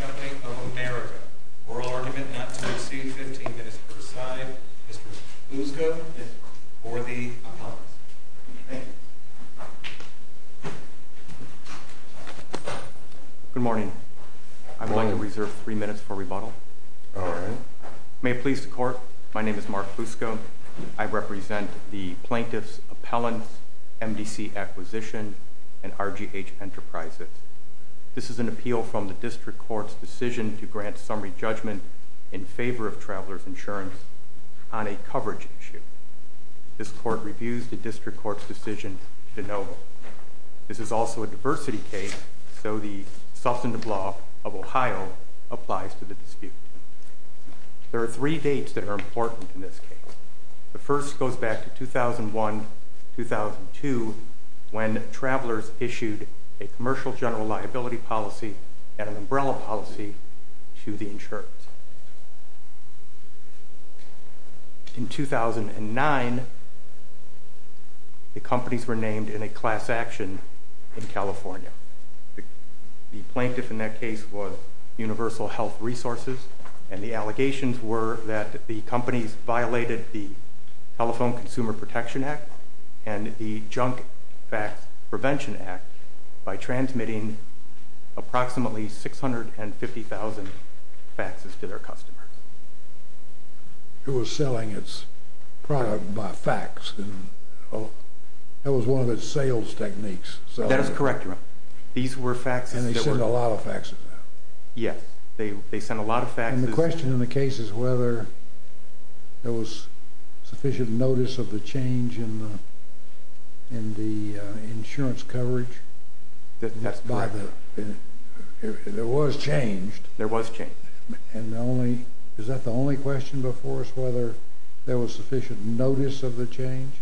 Company of America. Oral argument not to exceed 15 minutes per side. Mr. Luzco or the Good morning. I would like to reserve three minutes for rebuttal. May it please the court. My name is Mark Luzco. I represent the plaintiff's appellants, MDC Acquisition and RGH Enterprises. This is an appeal from the district court's decision to grant summary judgment in favor of travelers insurance on a coverage issue. This court reviews the district court's decision to note. This is also a diversity case. So the substantive law of Ohio applies to the dispute. There are three dates that are important in this case. The first goes back to 2001-2002 when travelers issued a commercial general liability policy and an umbrella policy to the insurance. In 2009, the companies were named in a class action in California. The plaintiff in that case was Universal Health Resources, and the allegations were that the companies violated the Telephone Consumer Protection Act and the Junk Fax Prevention Act by transmitting approximately 650,000 faxes. The plaintiff's claim was that the company had not issued a summary judgment in favor of travelers insurance on a coverage issue. The plaintiff's claim was that the company had not issued a summary judgment in favor of travelers insurance on a coverage issue. There was change. And is that the only question before us, whether there was sufficient notice of the change?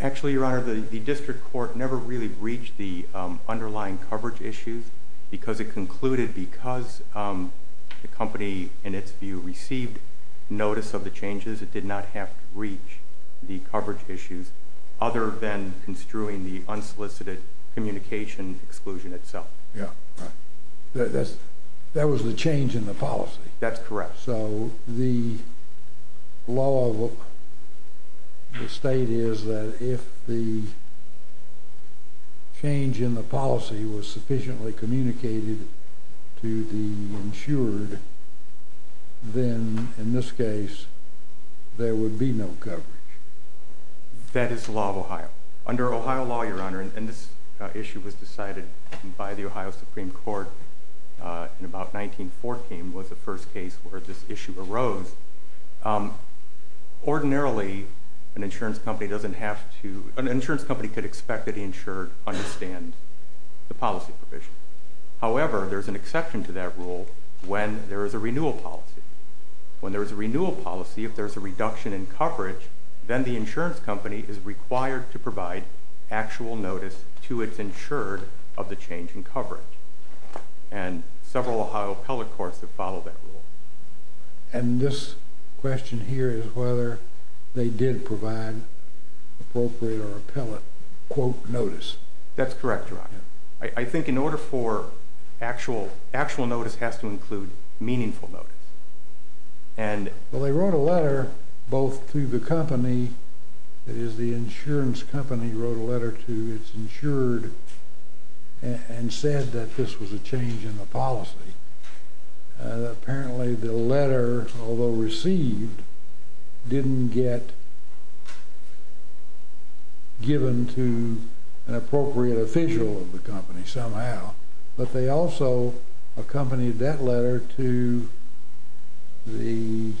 Actually, Your Honor, the district court never really breached the underlying coverage issues because it concluded because the company, in its view, received notice of the changes, it did not have to breach the coverage issues other than construing the unsolicited communication exclusion itself. That was the change in the policy. That's correct. So the law of the state is that if the change in the policy was sufficiently communicated to the insured, then, in this case, there would be no coverage. That is the law of Ohio. Under Ohio law, Your Honor, and this issue was decided by the Ohio Supreme Court in about 1914 was the first case where this issue arose. Ordinarily, an insurance company doesn't have to, an insurance company could expect that the insured understand the policy provision. However, there's an exception to that rule when there is a renewal policy. When there's a renewal policy, if there's a reduction in coverage, then the insurance company is required to provide actual notice to its insured of the change in coverage. And several Ohio appellate courts have followed that rule. And this question here is whether they did provide appropriate or appellate, quote, notice. That's correct, Your Honor. I think in order for actual notice has to include meaningful notice. Well, they wrote a letter both to the company that is the insurance company wrote a letter to its insured and said that this was a change in the policy. Apparently, the letter, although received, didn't get given to an appropriate official of the company somehow. But they also accompanied that letter to the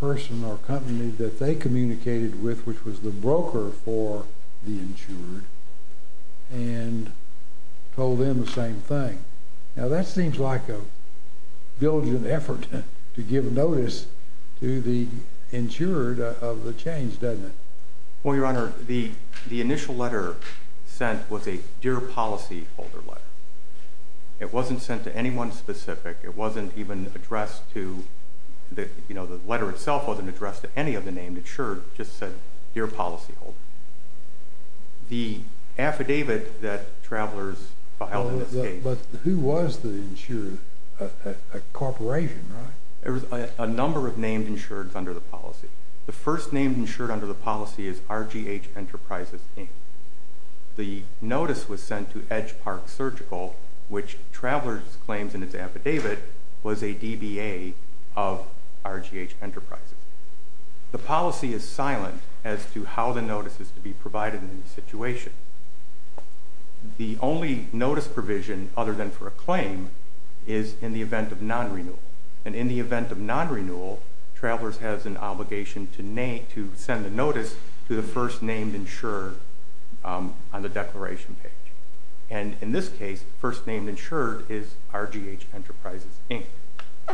person or company that they communicated with, which was the broker for the insured, and told them the same thing. Now, that seems like a diligent effort to give notice to the insured of the change, doesn't it? Well, Your Honor, the initial letter sent was a Dear Policy Holder letter. It wasn't sent to anyone specific. It wasn't even addressed to, you know, the letter itself wasn't addressed to any other name. It sure just said Dear Policy Holder. The affidavit that Travelers filed in this case. But who was the insured? A corporation, right? There was a number of named insureds under the policy. The first named insured under the policy is RGH Enterprises Inc. The notice was sent to Edge Park Surgical, which Travelers claims in its affidavit was a DBA of RGH Enterprises. The policy is silent as to how the notice is to be provided in this situation. The only notice provision, other than for a claim, is in the event of non-renewal. And in the event of non-renewal, Travelers has an obligation to send a notice to the first named insured on the declaration page. And in this case, first named insured is RGH Enterprises Inc.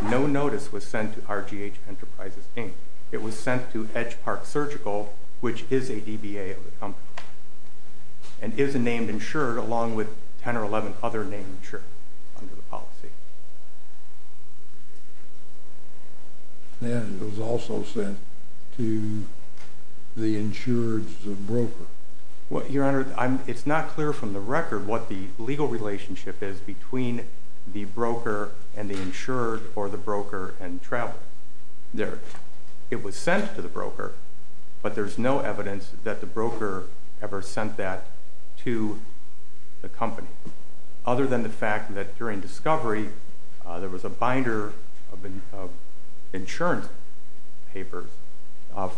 No notice was sent to RGH Enterprises Inc. It was sent to Edge Park Surgical, which is a DBA of the company. And is a named insured along with 10 or 11 other named insured under the policy. And it was also sent to the insured's broker. Your Honor, it's not clear from the record what the legal relationship is between the broker and the insured or the broker and Travelers. It was sent to the broker, but there's no evidence that the broker ever sent that to the company. Other than the fact that during discovery, there was a binder of insurance papers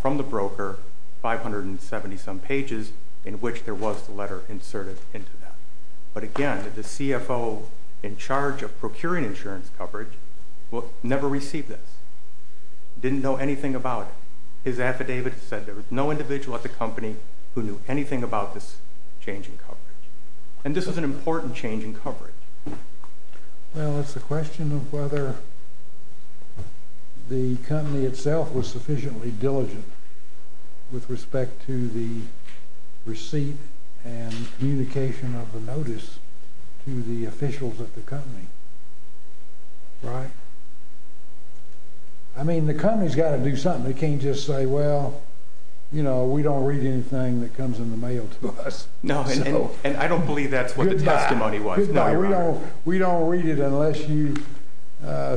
from the broker, 570 some pages, in which there was a letter inserted into that. But again, the CFO in charge of procuring insurance coverage never received this. Didn't know anything about it. His affidavit said there was no individual at the company who knew anything about this change in coverage. And this was an important change in coverage. Well, it's a question of whether the company itself was sufficiently diligent with respect to the receipt and communication of the notice to the officials at the company. Right? I mean, the company's got to do something. They can't just say, well, you know, we don't read anything that comes in the mail to us. No. And I don't believe that's what the testimony was. No, Your Honor. We don't read it unless you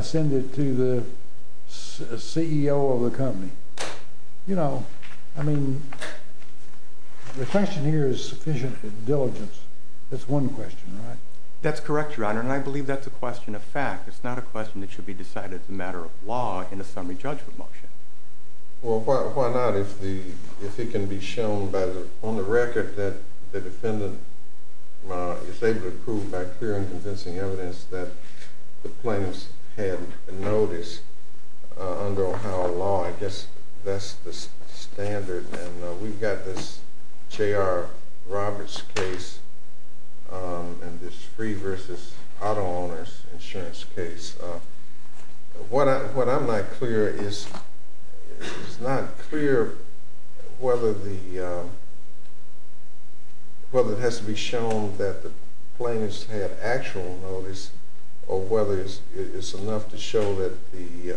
send it to the CEO of the company. You know, I mean, the question here is sufficient diligence. That's one question, right? That's correct, Your Honor, and I believe that's a question of fact. It's not a question that should be decided as a matter of law in a summary judgment motion. Well, why not if it can be shown on the record that the defendant is able to prove by clear and convincing evidence that the plaintiffs had a notice under Ohio law? I guess that's the standard. And we've got this J.R. Roberts case and this free versus auto owners insurance case. What I'm not clear is it's not clear whether it has to be shown that the plaintiffs had actual notice or whether it's enough to show that the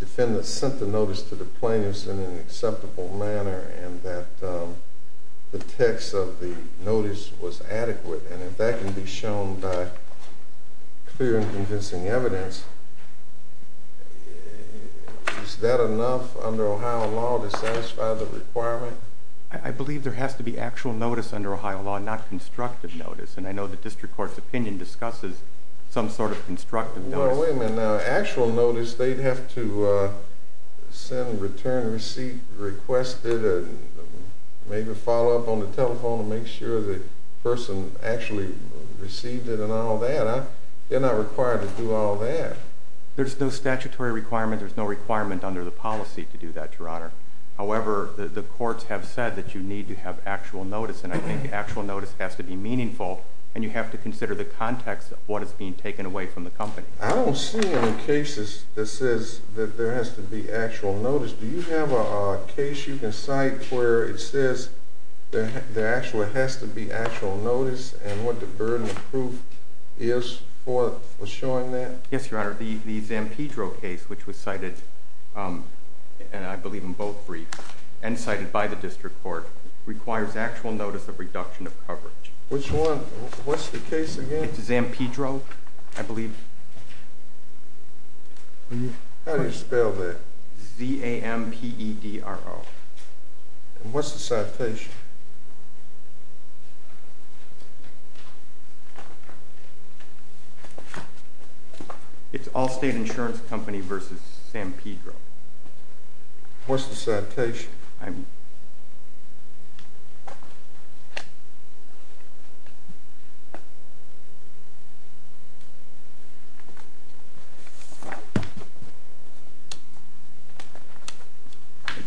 defendant sent the notice to the plaintiffs in an acceptable manner and that the text of the notice was adequate. And if that can be shown by clear and convincing evidence, is that enough under Ohio law to satisfy the requirement? I believe there has to be actual notice under Ohio law, not constructive notice. And I know the district court's opinion discusses some sort of constructive notice. Well, wait a minute. Actual notice, they'd have to send, return, receive, request it, and maybe follow up on the telephone to make sure the person actually received it and all that. They're not required to do all that. There's no statutory requirement. There's no requirement under the policy to do that, Your Honor. However, the courts have said that you need to have actual notice, and I think actual notice has to be meaningful, and you have to consider the context of what is being taken away from the company. I don't see any cases that says that there has to be actual notice. Do you have a case you can cite where it says there actually has to be actual notice and what the burden of proof is for showing that? Yes, Your Honor. The Zampedro case, which was cited, and I believe in both briefs, and cited by the district court, requires actual notice of reduction of coverage. Which one? What's the case again? It's Zampedro, I believe. How do you spell that? Z-A-M-P-E-D-R-O. And what's the citation? It's Allstate Insurance Company v. Zampedro. What's the citation? I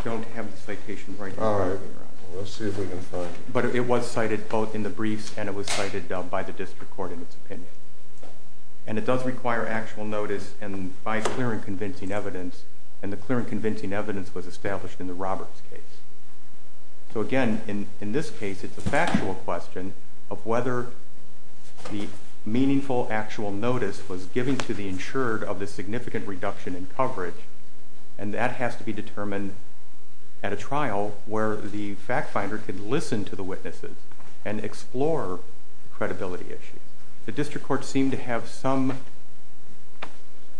don't have the citation right here. All right. Let's see if we can find it. But it was cited both in the briefs and it was cited by the district court in its opinion. And it does require actual notice by clear and convincing evidence, and the clear and convincing evidence was established in the Roberts case. So again, in this case, it's a factual question of whether the meaningful actual notice was given to the insured of the significant reduction in coverage, and that has to be determined at a trial where the fact finder can listen to the witnesses and explore the credibility issue. The district court seemed to have some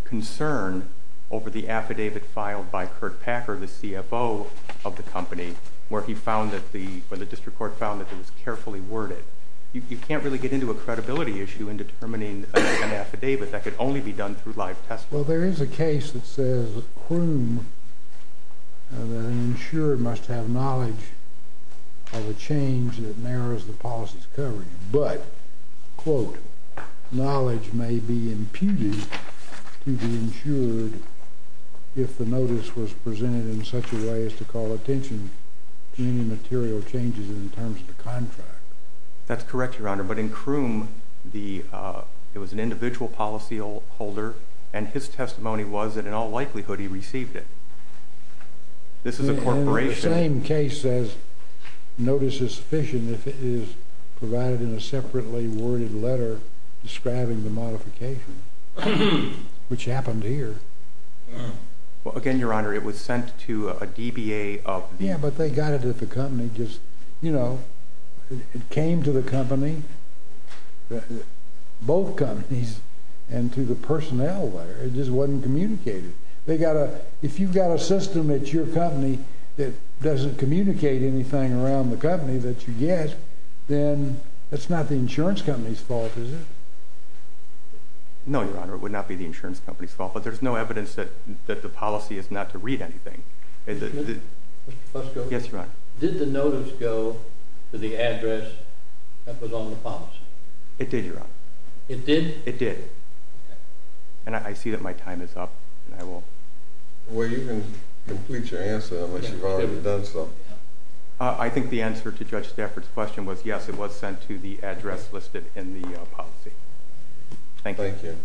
concern over the affidavit filed by Kurt Packer, the CFO of the company, where he found that the district court found that it was carefully worded. You can't really get into a credibility issue in determining an affidavit. That could only be done through live testimony. Well, there is a case that says that an insurer must have knowledge of a change that narrows the policy's coverage, but, quote, knowledge may be imputed to the insured if the notice was presented in such a way as to call attention to any material changes in terms of the contract. That's correct, Your Honor, but in Croom, it was an individual policyholder, and his testimony was that in all likelihood he received it. This is a corporation. The same case says notice is sufficient if it is provided in a separately worded letter describing the modification, which happened here. Well, again, Your Honor, it was sent to a DBA of the company. Yeah, but they got it at the company. It came to the company, both companies, and to the personnel there. It just wasn't communicated. If you've got a system at your company that doesn't communicate anything around the company that you get, then that's not the insurance company's fault, is it? No, Your Honor, it would not be the insurance company's fault, but there's no evidence that the policy is not to read anything. Mr. Fusco? Yes, Your Honor. Did the notice go to the address that was on the policy? It did, Your Honor. It did? It did. I see that my time is up. Well, you can complete your answer unless you've already done so. I think the answer to Judge Stafford's question was yes, it was sent to the address listed in the policy. Thank you. Thank you.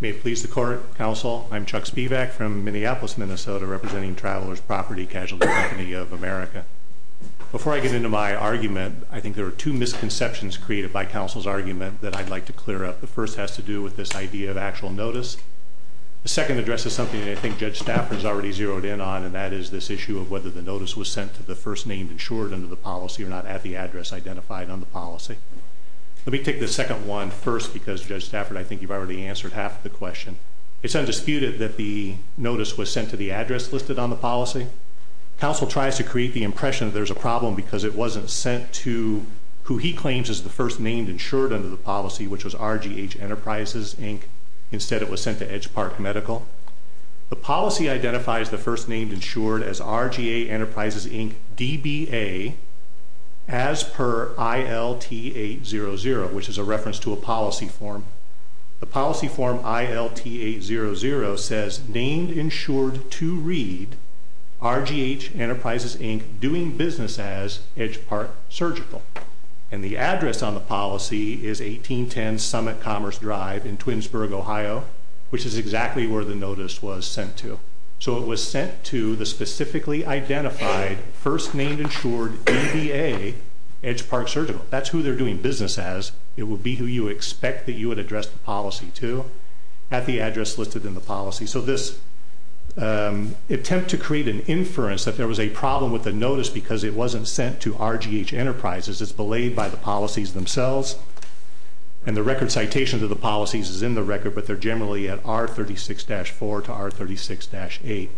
May it please the Court, Counsel, I'm Chuck Spivak from Minneapolis, Minnesota, representing Travelers Property Casualty Company of America. Before I get into my argument, I think there are two misconceptions created by counsel's argument that I'd like to clear up. The first has to do with this idea of actual notice. The second address is something that I think Judge Stafford has already zeroed in on, and that is this issue of whether the notice was sent to the first name insured under the policy or not at the address identified on the policy. Let me take the second one first because, Judge Stafford, I think you've already answered half of the question. It's undisputed that the notice was sent to the address listed on the policy. Counsel tries to create the impression that there's a problem because it wasn't sent to who he claims is the first name insured under the policy, which was RGH Enterprises, Inc. Instead, it was sent to Edge Park Medical. The policy identifies the first name insured as RGA Enterprises, Inc., DBA, as per ILT800, which is a reference to a policy form. The policy form ILT800 says, Named insured to read RGH Enterprises, Inc., doing business as Edge Park Surgical. And the address on the policy is 1810 Summit Commerce Drive in Twinsburg, Ohio, which is exactly where the notice was sent to. So it was sent to the specifically identified first name insured DBA, Edge Park Surgical. That's who they're doing business as. It would be who you expect that you would address the policy to at the address listed in the policy. So this attempt to create an inference that there was a problem with the notice because it wasn't sent to RGH Enterprises is belayed by the policies themselves. And the record citation to the policies is in the record, but they're generally at R36-4 to R36-8.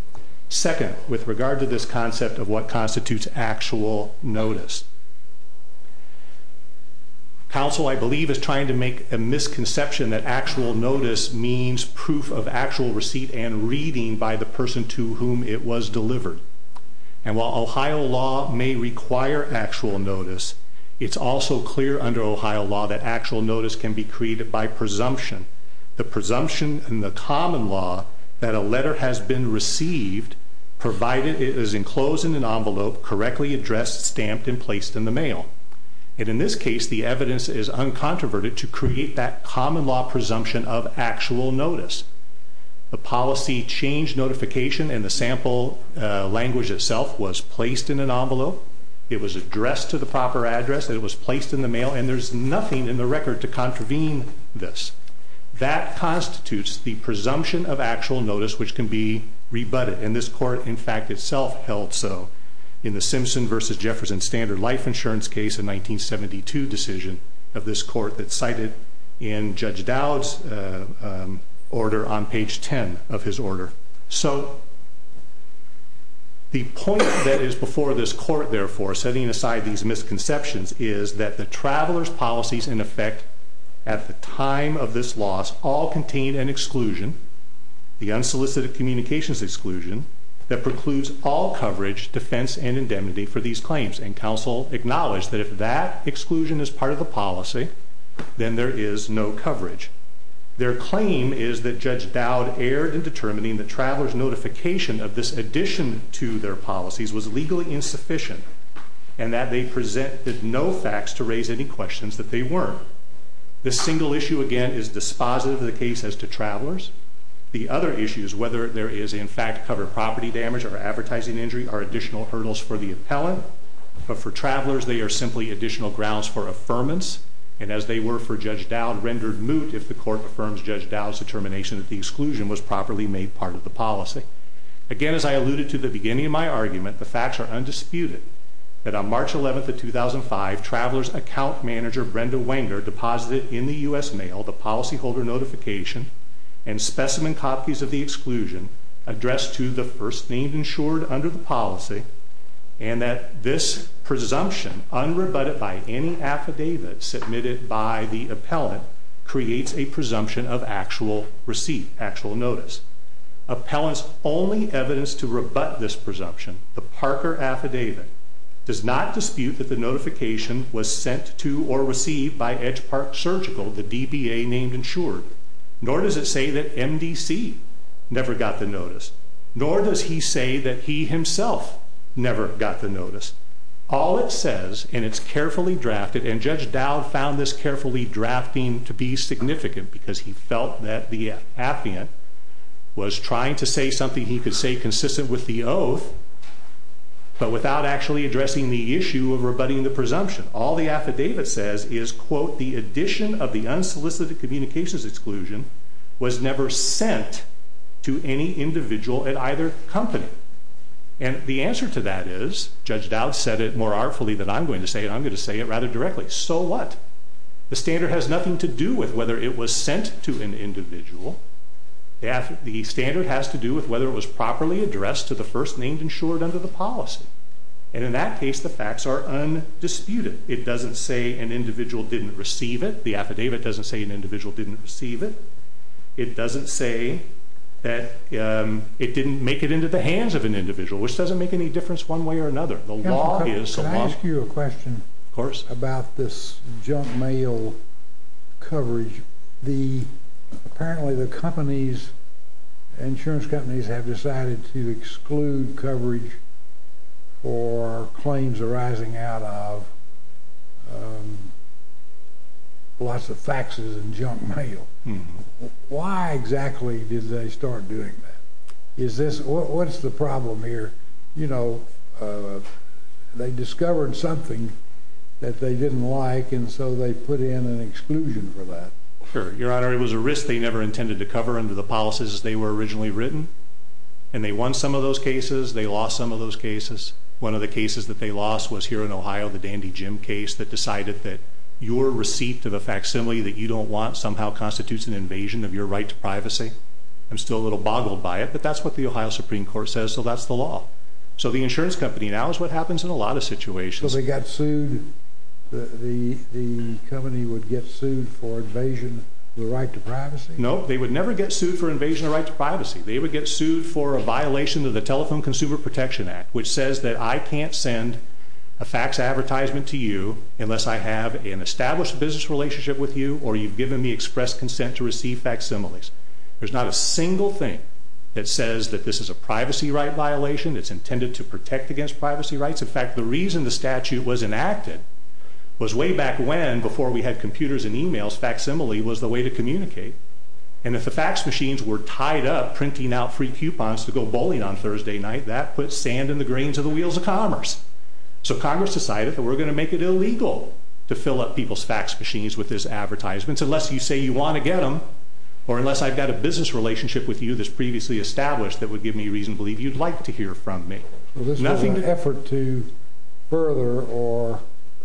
Second, with regard to this concept of what constitutes actual notice, counsel, I believe, is trying to make a misconception that actual notice means proof of actual receipt and reading by the person to whom it was delivered. And while Ohio law may require actual notice, it's also clear under Ohio law that actual notice can be created by presumption. The presumption in the common law that a letter has been received, provided it is enclosed in an envelope, correctly addressed, stamped, and placed in the mail. And in this case, the evidence is uncontroverted to create that common law presumption of actual notice. The policy change notification and the sample language itself was placed in an envelope. It was addressed to the proper address. It was placed in the mail. And there's nothing in the record to contravene this. That constitutes the presumption of actual notice, which can be rebutted. And this court, in fact, itself held so in the Simpson v. Jefferson Standard Life Insurance case in 1972 decision of this court that's cited in Judge Dowd's order on page 10 of his order. So the point that is before this court, therefore, setting aside these misconceptions, is that the traveler's policies, in effect, at the time of this loss, all contain an exclusion, the unsolicited communications exclusion, that precludes all coverage, defense, and indemnity for these claims. And counsel acknowledged that if that exclusion is part of the policy, then there is no coverage. Their claim is that Judge Dowd erred in determining the traveler's notification of this addition to their policies was legally insufficient and that they presented no facts to raise any questions that they weren't. This single issue, again, is dispositive of the case as to travelers. The other issue is whether there is, in fact, covered property damage or advertising injury are additional hurdles for the appellant. But for travelers, they are simply additional grounds for affirmance. And as they were for Judge Dowd, rendered moot if the court affirms Judge Dowd's determination that the exclusion was properly made part of the policy. Again, as I alluded to at the beginning of my argument, the facts are undisputed that on March 11, 2005, traveler's account manager, Brenda Wenger, deposited in the U.S. Mail the policyholder notification and specimen copies of the exclusion addressed to the first named insured under the policy and that this presumption, unrebutted by any affidavit submitted by the appellant, creates a presumption of actual receipt, actual notice. Appellant's only evidence to rebut this presumption, the Parker Affidavit, does not dispute that the notification was sent to or received by Edge Park Surgical, the DBA named insured. Nor does it say that MDC never got the notice. Nor does he say that he himself never got the notice. All it says, and it's carefully drafted, and Judge Dowd found this carefully drafting to be significant because he felt that the appellant was trying to say something he could say consistent with the oath, but without actually addressing the issue of rebutting the presumption. All the affidavit says is, quote, the addition of the unsolicited communications exclusion was never sent to any individual at either company. And the answer to that is, Judge Dowd said it more artfully than I'm going to say it, and I'm going to say it rather directly, so what? The standard has nothing to do with whether it was sent to an individual. The standard has to do with whether it was properly addressed to the first named insured under the policy. And in that case, the facts are undisputed. It doesn't say an individual didn't receive it. The affidavit doesn't say an individual didn't receive it. It doesn't say that it didn't make it into the hands of an individual, which doesn't make any difference one way or another. The law is the law. Can I ask you a question about this junk mail coverage? Apparently the insurance companies have decided to exclude coverage for claims arising out of lots of faxes and junk mail. Why exactly did they start doing that? What's the problem here? They discovered something that they didn't like, and so they put in an exclusion for that. Sure. Your Honor, it was a risk they never intended to cover under the policies as they were originally written, and they won some of those cases. They lost some of those cases. One of the cases that they lost was here in Ohio, the Dandy Jim case, that decided that your receipt of a facsimile that you don't want somehow constitutes an invasion of your right to privacy. I'm still a little boggled by it, but that's what the Ohio Supreme Court says, so that's the law. So the insurance company now is what happens in a lot of situations. So they got sued? The company would get sued for invasion of the right to privacy? No, they would never get sued for invasion of the right to privacy. They would get sued for a violation of the Telephone Consumer Protection Act, which says that I can't send a fax advertisement to you unless I have an established business relationship with you or you've given me express consent to receive facsimiles. There's not a single thing that says that this is a privacy right violation. It's intended to protect against privacy rights. In fact, the reason the statute was enacted was way back when, before we had computers and e-mails, facsimile was the way to communicate. And if the fax machines were tied up, printing out free coupons to go bowling on Thursday night, that put sand in the grains of the wheels of commerce. So Congress decided that we're going to make it illegal to fill up people's fax machines with these advertisements unless you say you want to get them or unless I've got a business relationship with you that's previously established that would give me reason to believe you'd like to hear from me. So this was an effort to further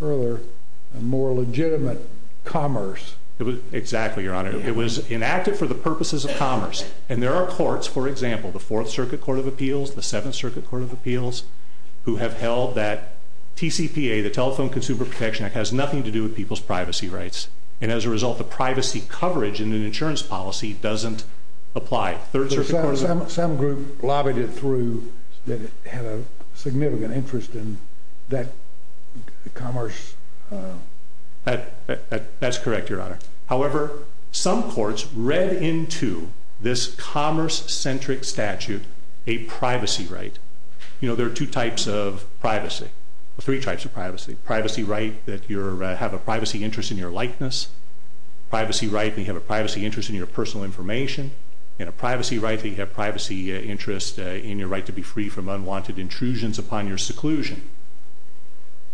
a more legitimate commerce. Exactly, Your Honor. It was enacted for the purposes of commerce. And there are courts, for example, the Fourth Circuit Court of Appeals, the Seventh Circuit Court of Appeals, who have held that TCPA, the Telephone Consumer Protection Act, has nothing to do with people's privacy rights. And as a result, the privacy coverage in an insurance policy doesn't apply. Some group lobbied it through that it had a significant interest in that commerce. That's correct, Your Honor. However, some courts read into this commerce-centric statute a privacy right. You know, there are two types of privacy, three types of privacy. Privacy right that you have a privacy interest in your likeness. Privacy right that you have a privacy interest in your personal information. And a privacy right that you have a privacy interest in your right to be free from unwanted intrusions upon your seclusion.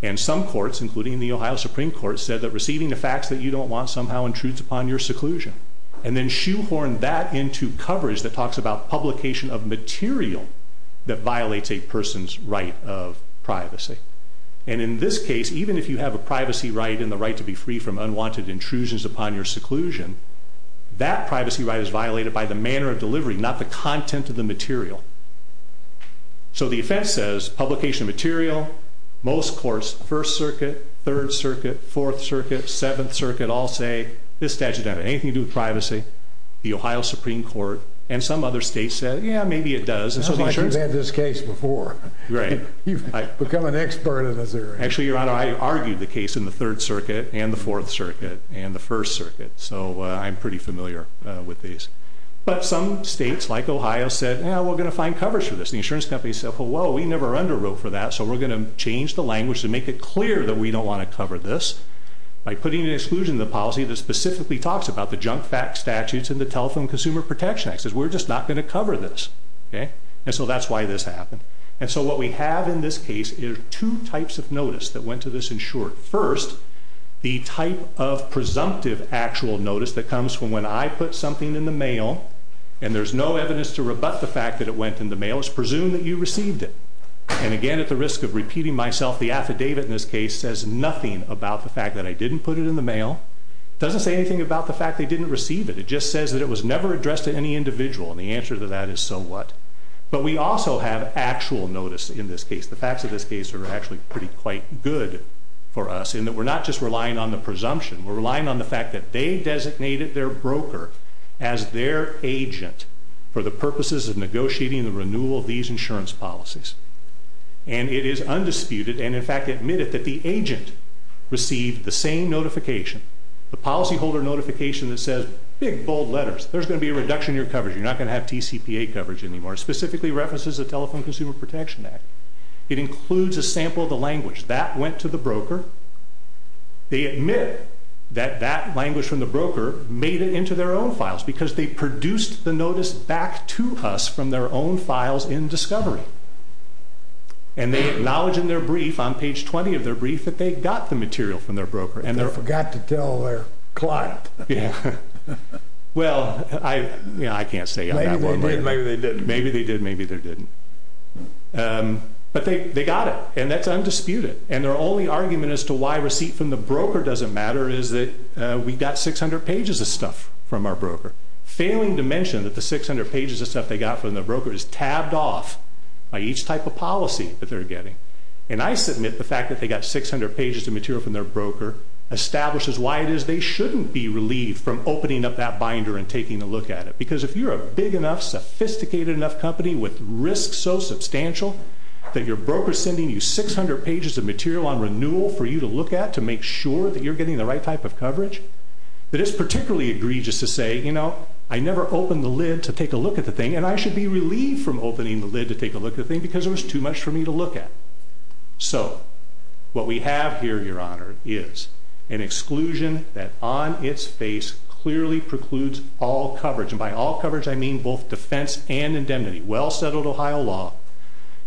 And some courts, including the Ohio Supreme Court, said that receiving a fax that you don't want somehow intrudes upon your seclusion. And then shoehorned that into coverage that talks about publication of material that violates a person's right of privacy. And in this case, even if you have a privacy right and the right to be free from unwanted intrusions upon your seclusion, that privacy right is violated by the manner of delivery, not the content of the material. So the offense says publication of material. Most courts, First Circuit, Third Circuit, Fourth Circuit, Seventh Circuit, all say this statute doesn't have anything to do with privacy. The Ohio Supreme Court and some other states said, yeah, maybe it does. It sounds like you've had this case before. Right. You've become an expert in this area. Actually, Your Honor, I argued the case in the Third Circuit and the Fourth Circuit and the First Circuit. So I'm pretty familiar with these. But some states, like Ohio, said, yeah, we're going to find coverage for this. The insurance company said, well, we never underwrote for that, so we're going to change the language to make it clear that we don't want to cover this by putting an exclusion to the policy that specifically talks about the junk fax statutes and the Telephone Consumer Protection Act. It says we're just not going to cover this. And so that's why this happened. And so what we have in this case is two types of notice that went to this insurer. First, the type of presumptive actual notice that comes from when I put something in the mail and there's no evidence to rebut the fact that it went in the mail. It's presumed that you received it. And again, at the risk of repeating myself, the affidavit in this case says nothing about the fact that I didn't put it in the mail. It doesn't say anything about the fact they didn't receive it. It just says that it was never addressed to any individual. And the answer to that is so what. But we also have actual notice in this case. The facts of this case are actually pretty quite good for us in that we're not just relying on the presumption. We're relying on the fact that they designated their broker as their agent for the purposes of negotiating the renewal of these insurance policies. And it is undisputed and, in fact, admitted that the agent received the same notification, the policyholder notification that says big, bold letters. There's going to be a reduction in your coverage. You're not going to have TCPA coverage anymore. It specifically references the Telephone Consumer Protection Act. It includes a sample of the language. That went to the broker. They admit that that language from the broker made it into their own files because they produced the notice back to us from their own files in discovery. And they acknowledge in their brief, on page 20 of their brief, that they got the material from their broker. And they forgot to tell their client. Well, I can't say. Maybe they did, maybe they didn't. Maybe they did, maybe they didn't. But they got it, and that's undisputed. And their only argument as to why receipt from the broker doesn't matter is that we got 600 pages of stuff from our broker. Failing to mention that the 600 pages of stuff they got from their broker is tabbed off by each type of policy that they're getting. And I submit the fact that they got 600 pages of material from their broker establishes why it is they shouldn't be relieved from opening up that binder and taking a look at it. Because if you're a big enough, sophisticated enough company with risks so substantial that your broker is sending you 600 pages of material on renewal for you to look at to make sure that you're getting the right type of coverage, that it's particularly egregious to say, you know, I never opened the lid to take a look at the thing, and I should be relieved from opening the lid to take a look at the thing because it was too much for me to look at. So what we have here, Your Honor, is an exclusion that on its face clearly precludes all coverage. And by all coverage, I mean both defense and indemnity. Well-settled Ohio law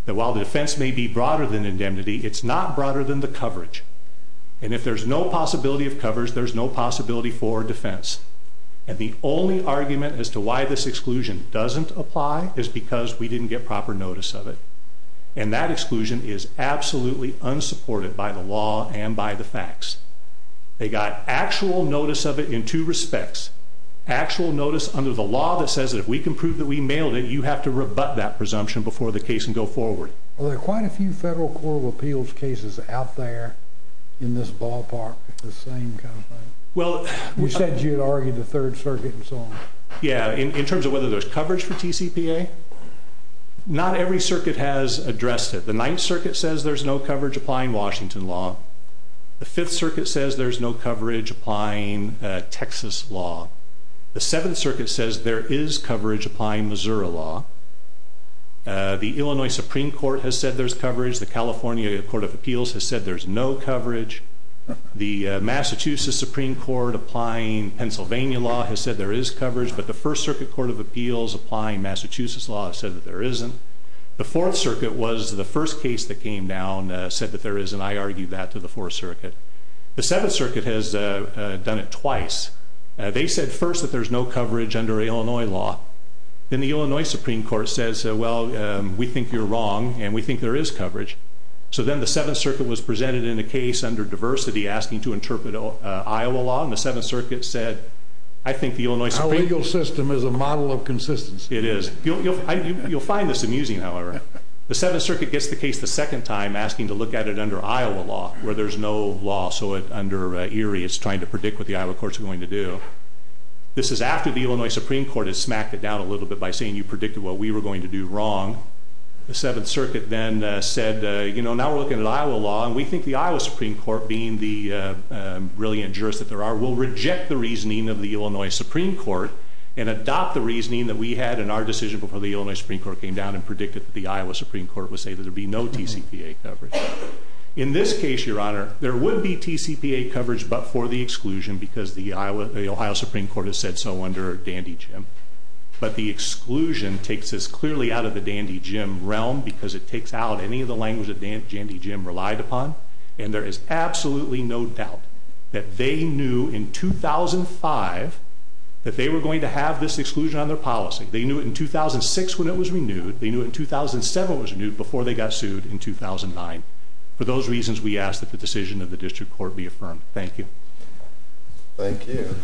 that while the defense may be broader than indemnity, it's not broader than the coverage. And if there's no possibility of coverage, there's no possibility for defense. And the only argument as to why this exclusion doesn't apply is because we didn't get proper notice of it. And that exclusion is absolutely unsupported by the law and by the facts. They got actual notice of it in two respects. Actual notice under the law that says that if we can prove that we mailed it, you have to rebut that presumption before the case can go forward. Well, there are quite a few federal court of appeals cases out there in this ballpark, the same kind of thing. You said you had argued the Third Circuit and so on. Yeah, in terms of whether there's coverage for TCPA, not every circuit has addressed it. The Ninth Circuit says there's no coverage applying Washington law. The Fifth Circuit says there's no coverage applying Texas law. The Seventh Circuit says there is coverage applying Missouri law. The Illinois Supreme Court has said there's coverage. The California Court of Appeals has said there's no coverage. The Massachusetts Supreme Court applying Pennsylvania law has said there is coverage. But the First Circuit Court of Appeals applying Massachusetts law has said that there isn't. The Fourth Circuit was the first case that came down, said that there is, and I argued that to the Fourth Circuit. The Seventh Circuit has done it twice. They said first that there's no coverage under Illinois law. Then the Illinois Supreme Court says, well, we think you're wrong and we think there is coverage. So then the Seventh Circuit was presented in a case under diversity asking to interpret Iowa law, and the Seventh Circuit said, Our legal system is a model of consistency. It is. You'll find this amusing, however. The Seventh Circuit gets the case the second time asking to look at it under Iowa law where there's no law, so under Erie it's trying to predict what the Iowa court's going to do. This is after the Illinois Supreme Court has smacked it down a little bit by saying you predicted what we were going to do wrong. The Seventh Circuit then said, you know, now we're looking at Iowa law and we think the Iowa Supreme Court, being the brilliant jurist that there are, will reject the reasoning of the Illinois Supreme Court and adopt the reasoning that we had in our decision before the Illinois Supreme Court came down and predicted that the Iowa Supreme Court would say that there would be no TCPA coverage. In this case, Your Honor, there would be TCPA coverage but for the exclusion because the Ohio Supreme Court has said so under Dandy Jim. But the exclusion takes us clearly out of the Dandy Jim realm because it takes out any of the language that Dandy Jim relied upon, and there is absolutely no doubt that they knew in 2005 that they were going to have this exclusion on their policy. They knew it in 2006 when it was renewed. They knew it in 2007 when it was renewed before they got sued in 2009. For those reasons, we ask that the decision of the district court be affirmed. Thank you. Thank you.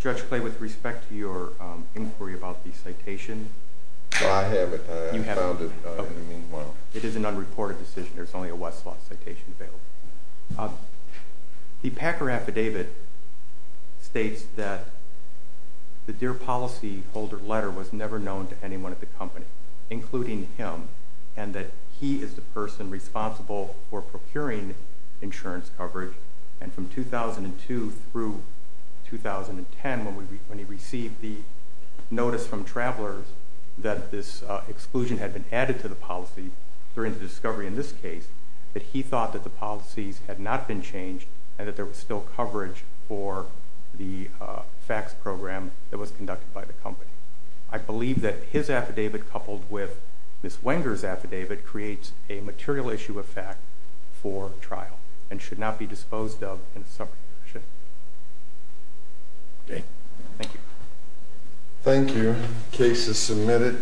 Judge Clay, with respect to your inquiry about the citation, I have it. I found it in the meanwhile. It is an unreported decision. There's only a Westlaw citation available. The Packer affidavit states that the Dear Policy Holder letter was never known to anyone at the company, including him, and that he is the person responsible for procuring insurance coverage. And from 2002 through 2010, when he received the notice from travelers that this exclusion had been added to the policy during the discovery in this case, that he thought that the policies had not been changed and that there was still coverage for the FACTS program that was conducted by the company. I believe that his affidavit coupled with Ms. Wenger's affidavit creates a material issue of fact for trial and should not be disposed of in a separate issue. Okay. Thank you. Thank you. Case is submitted.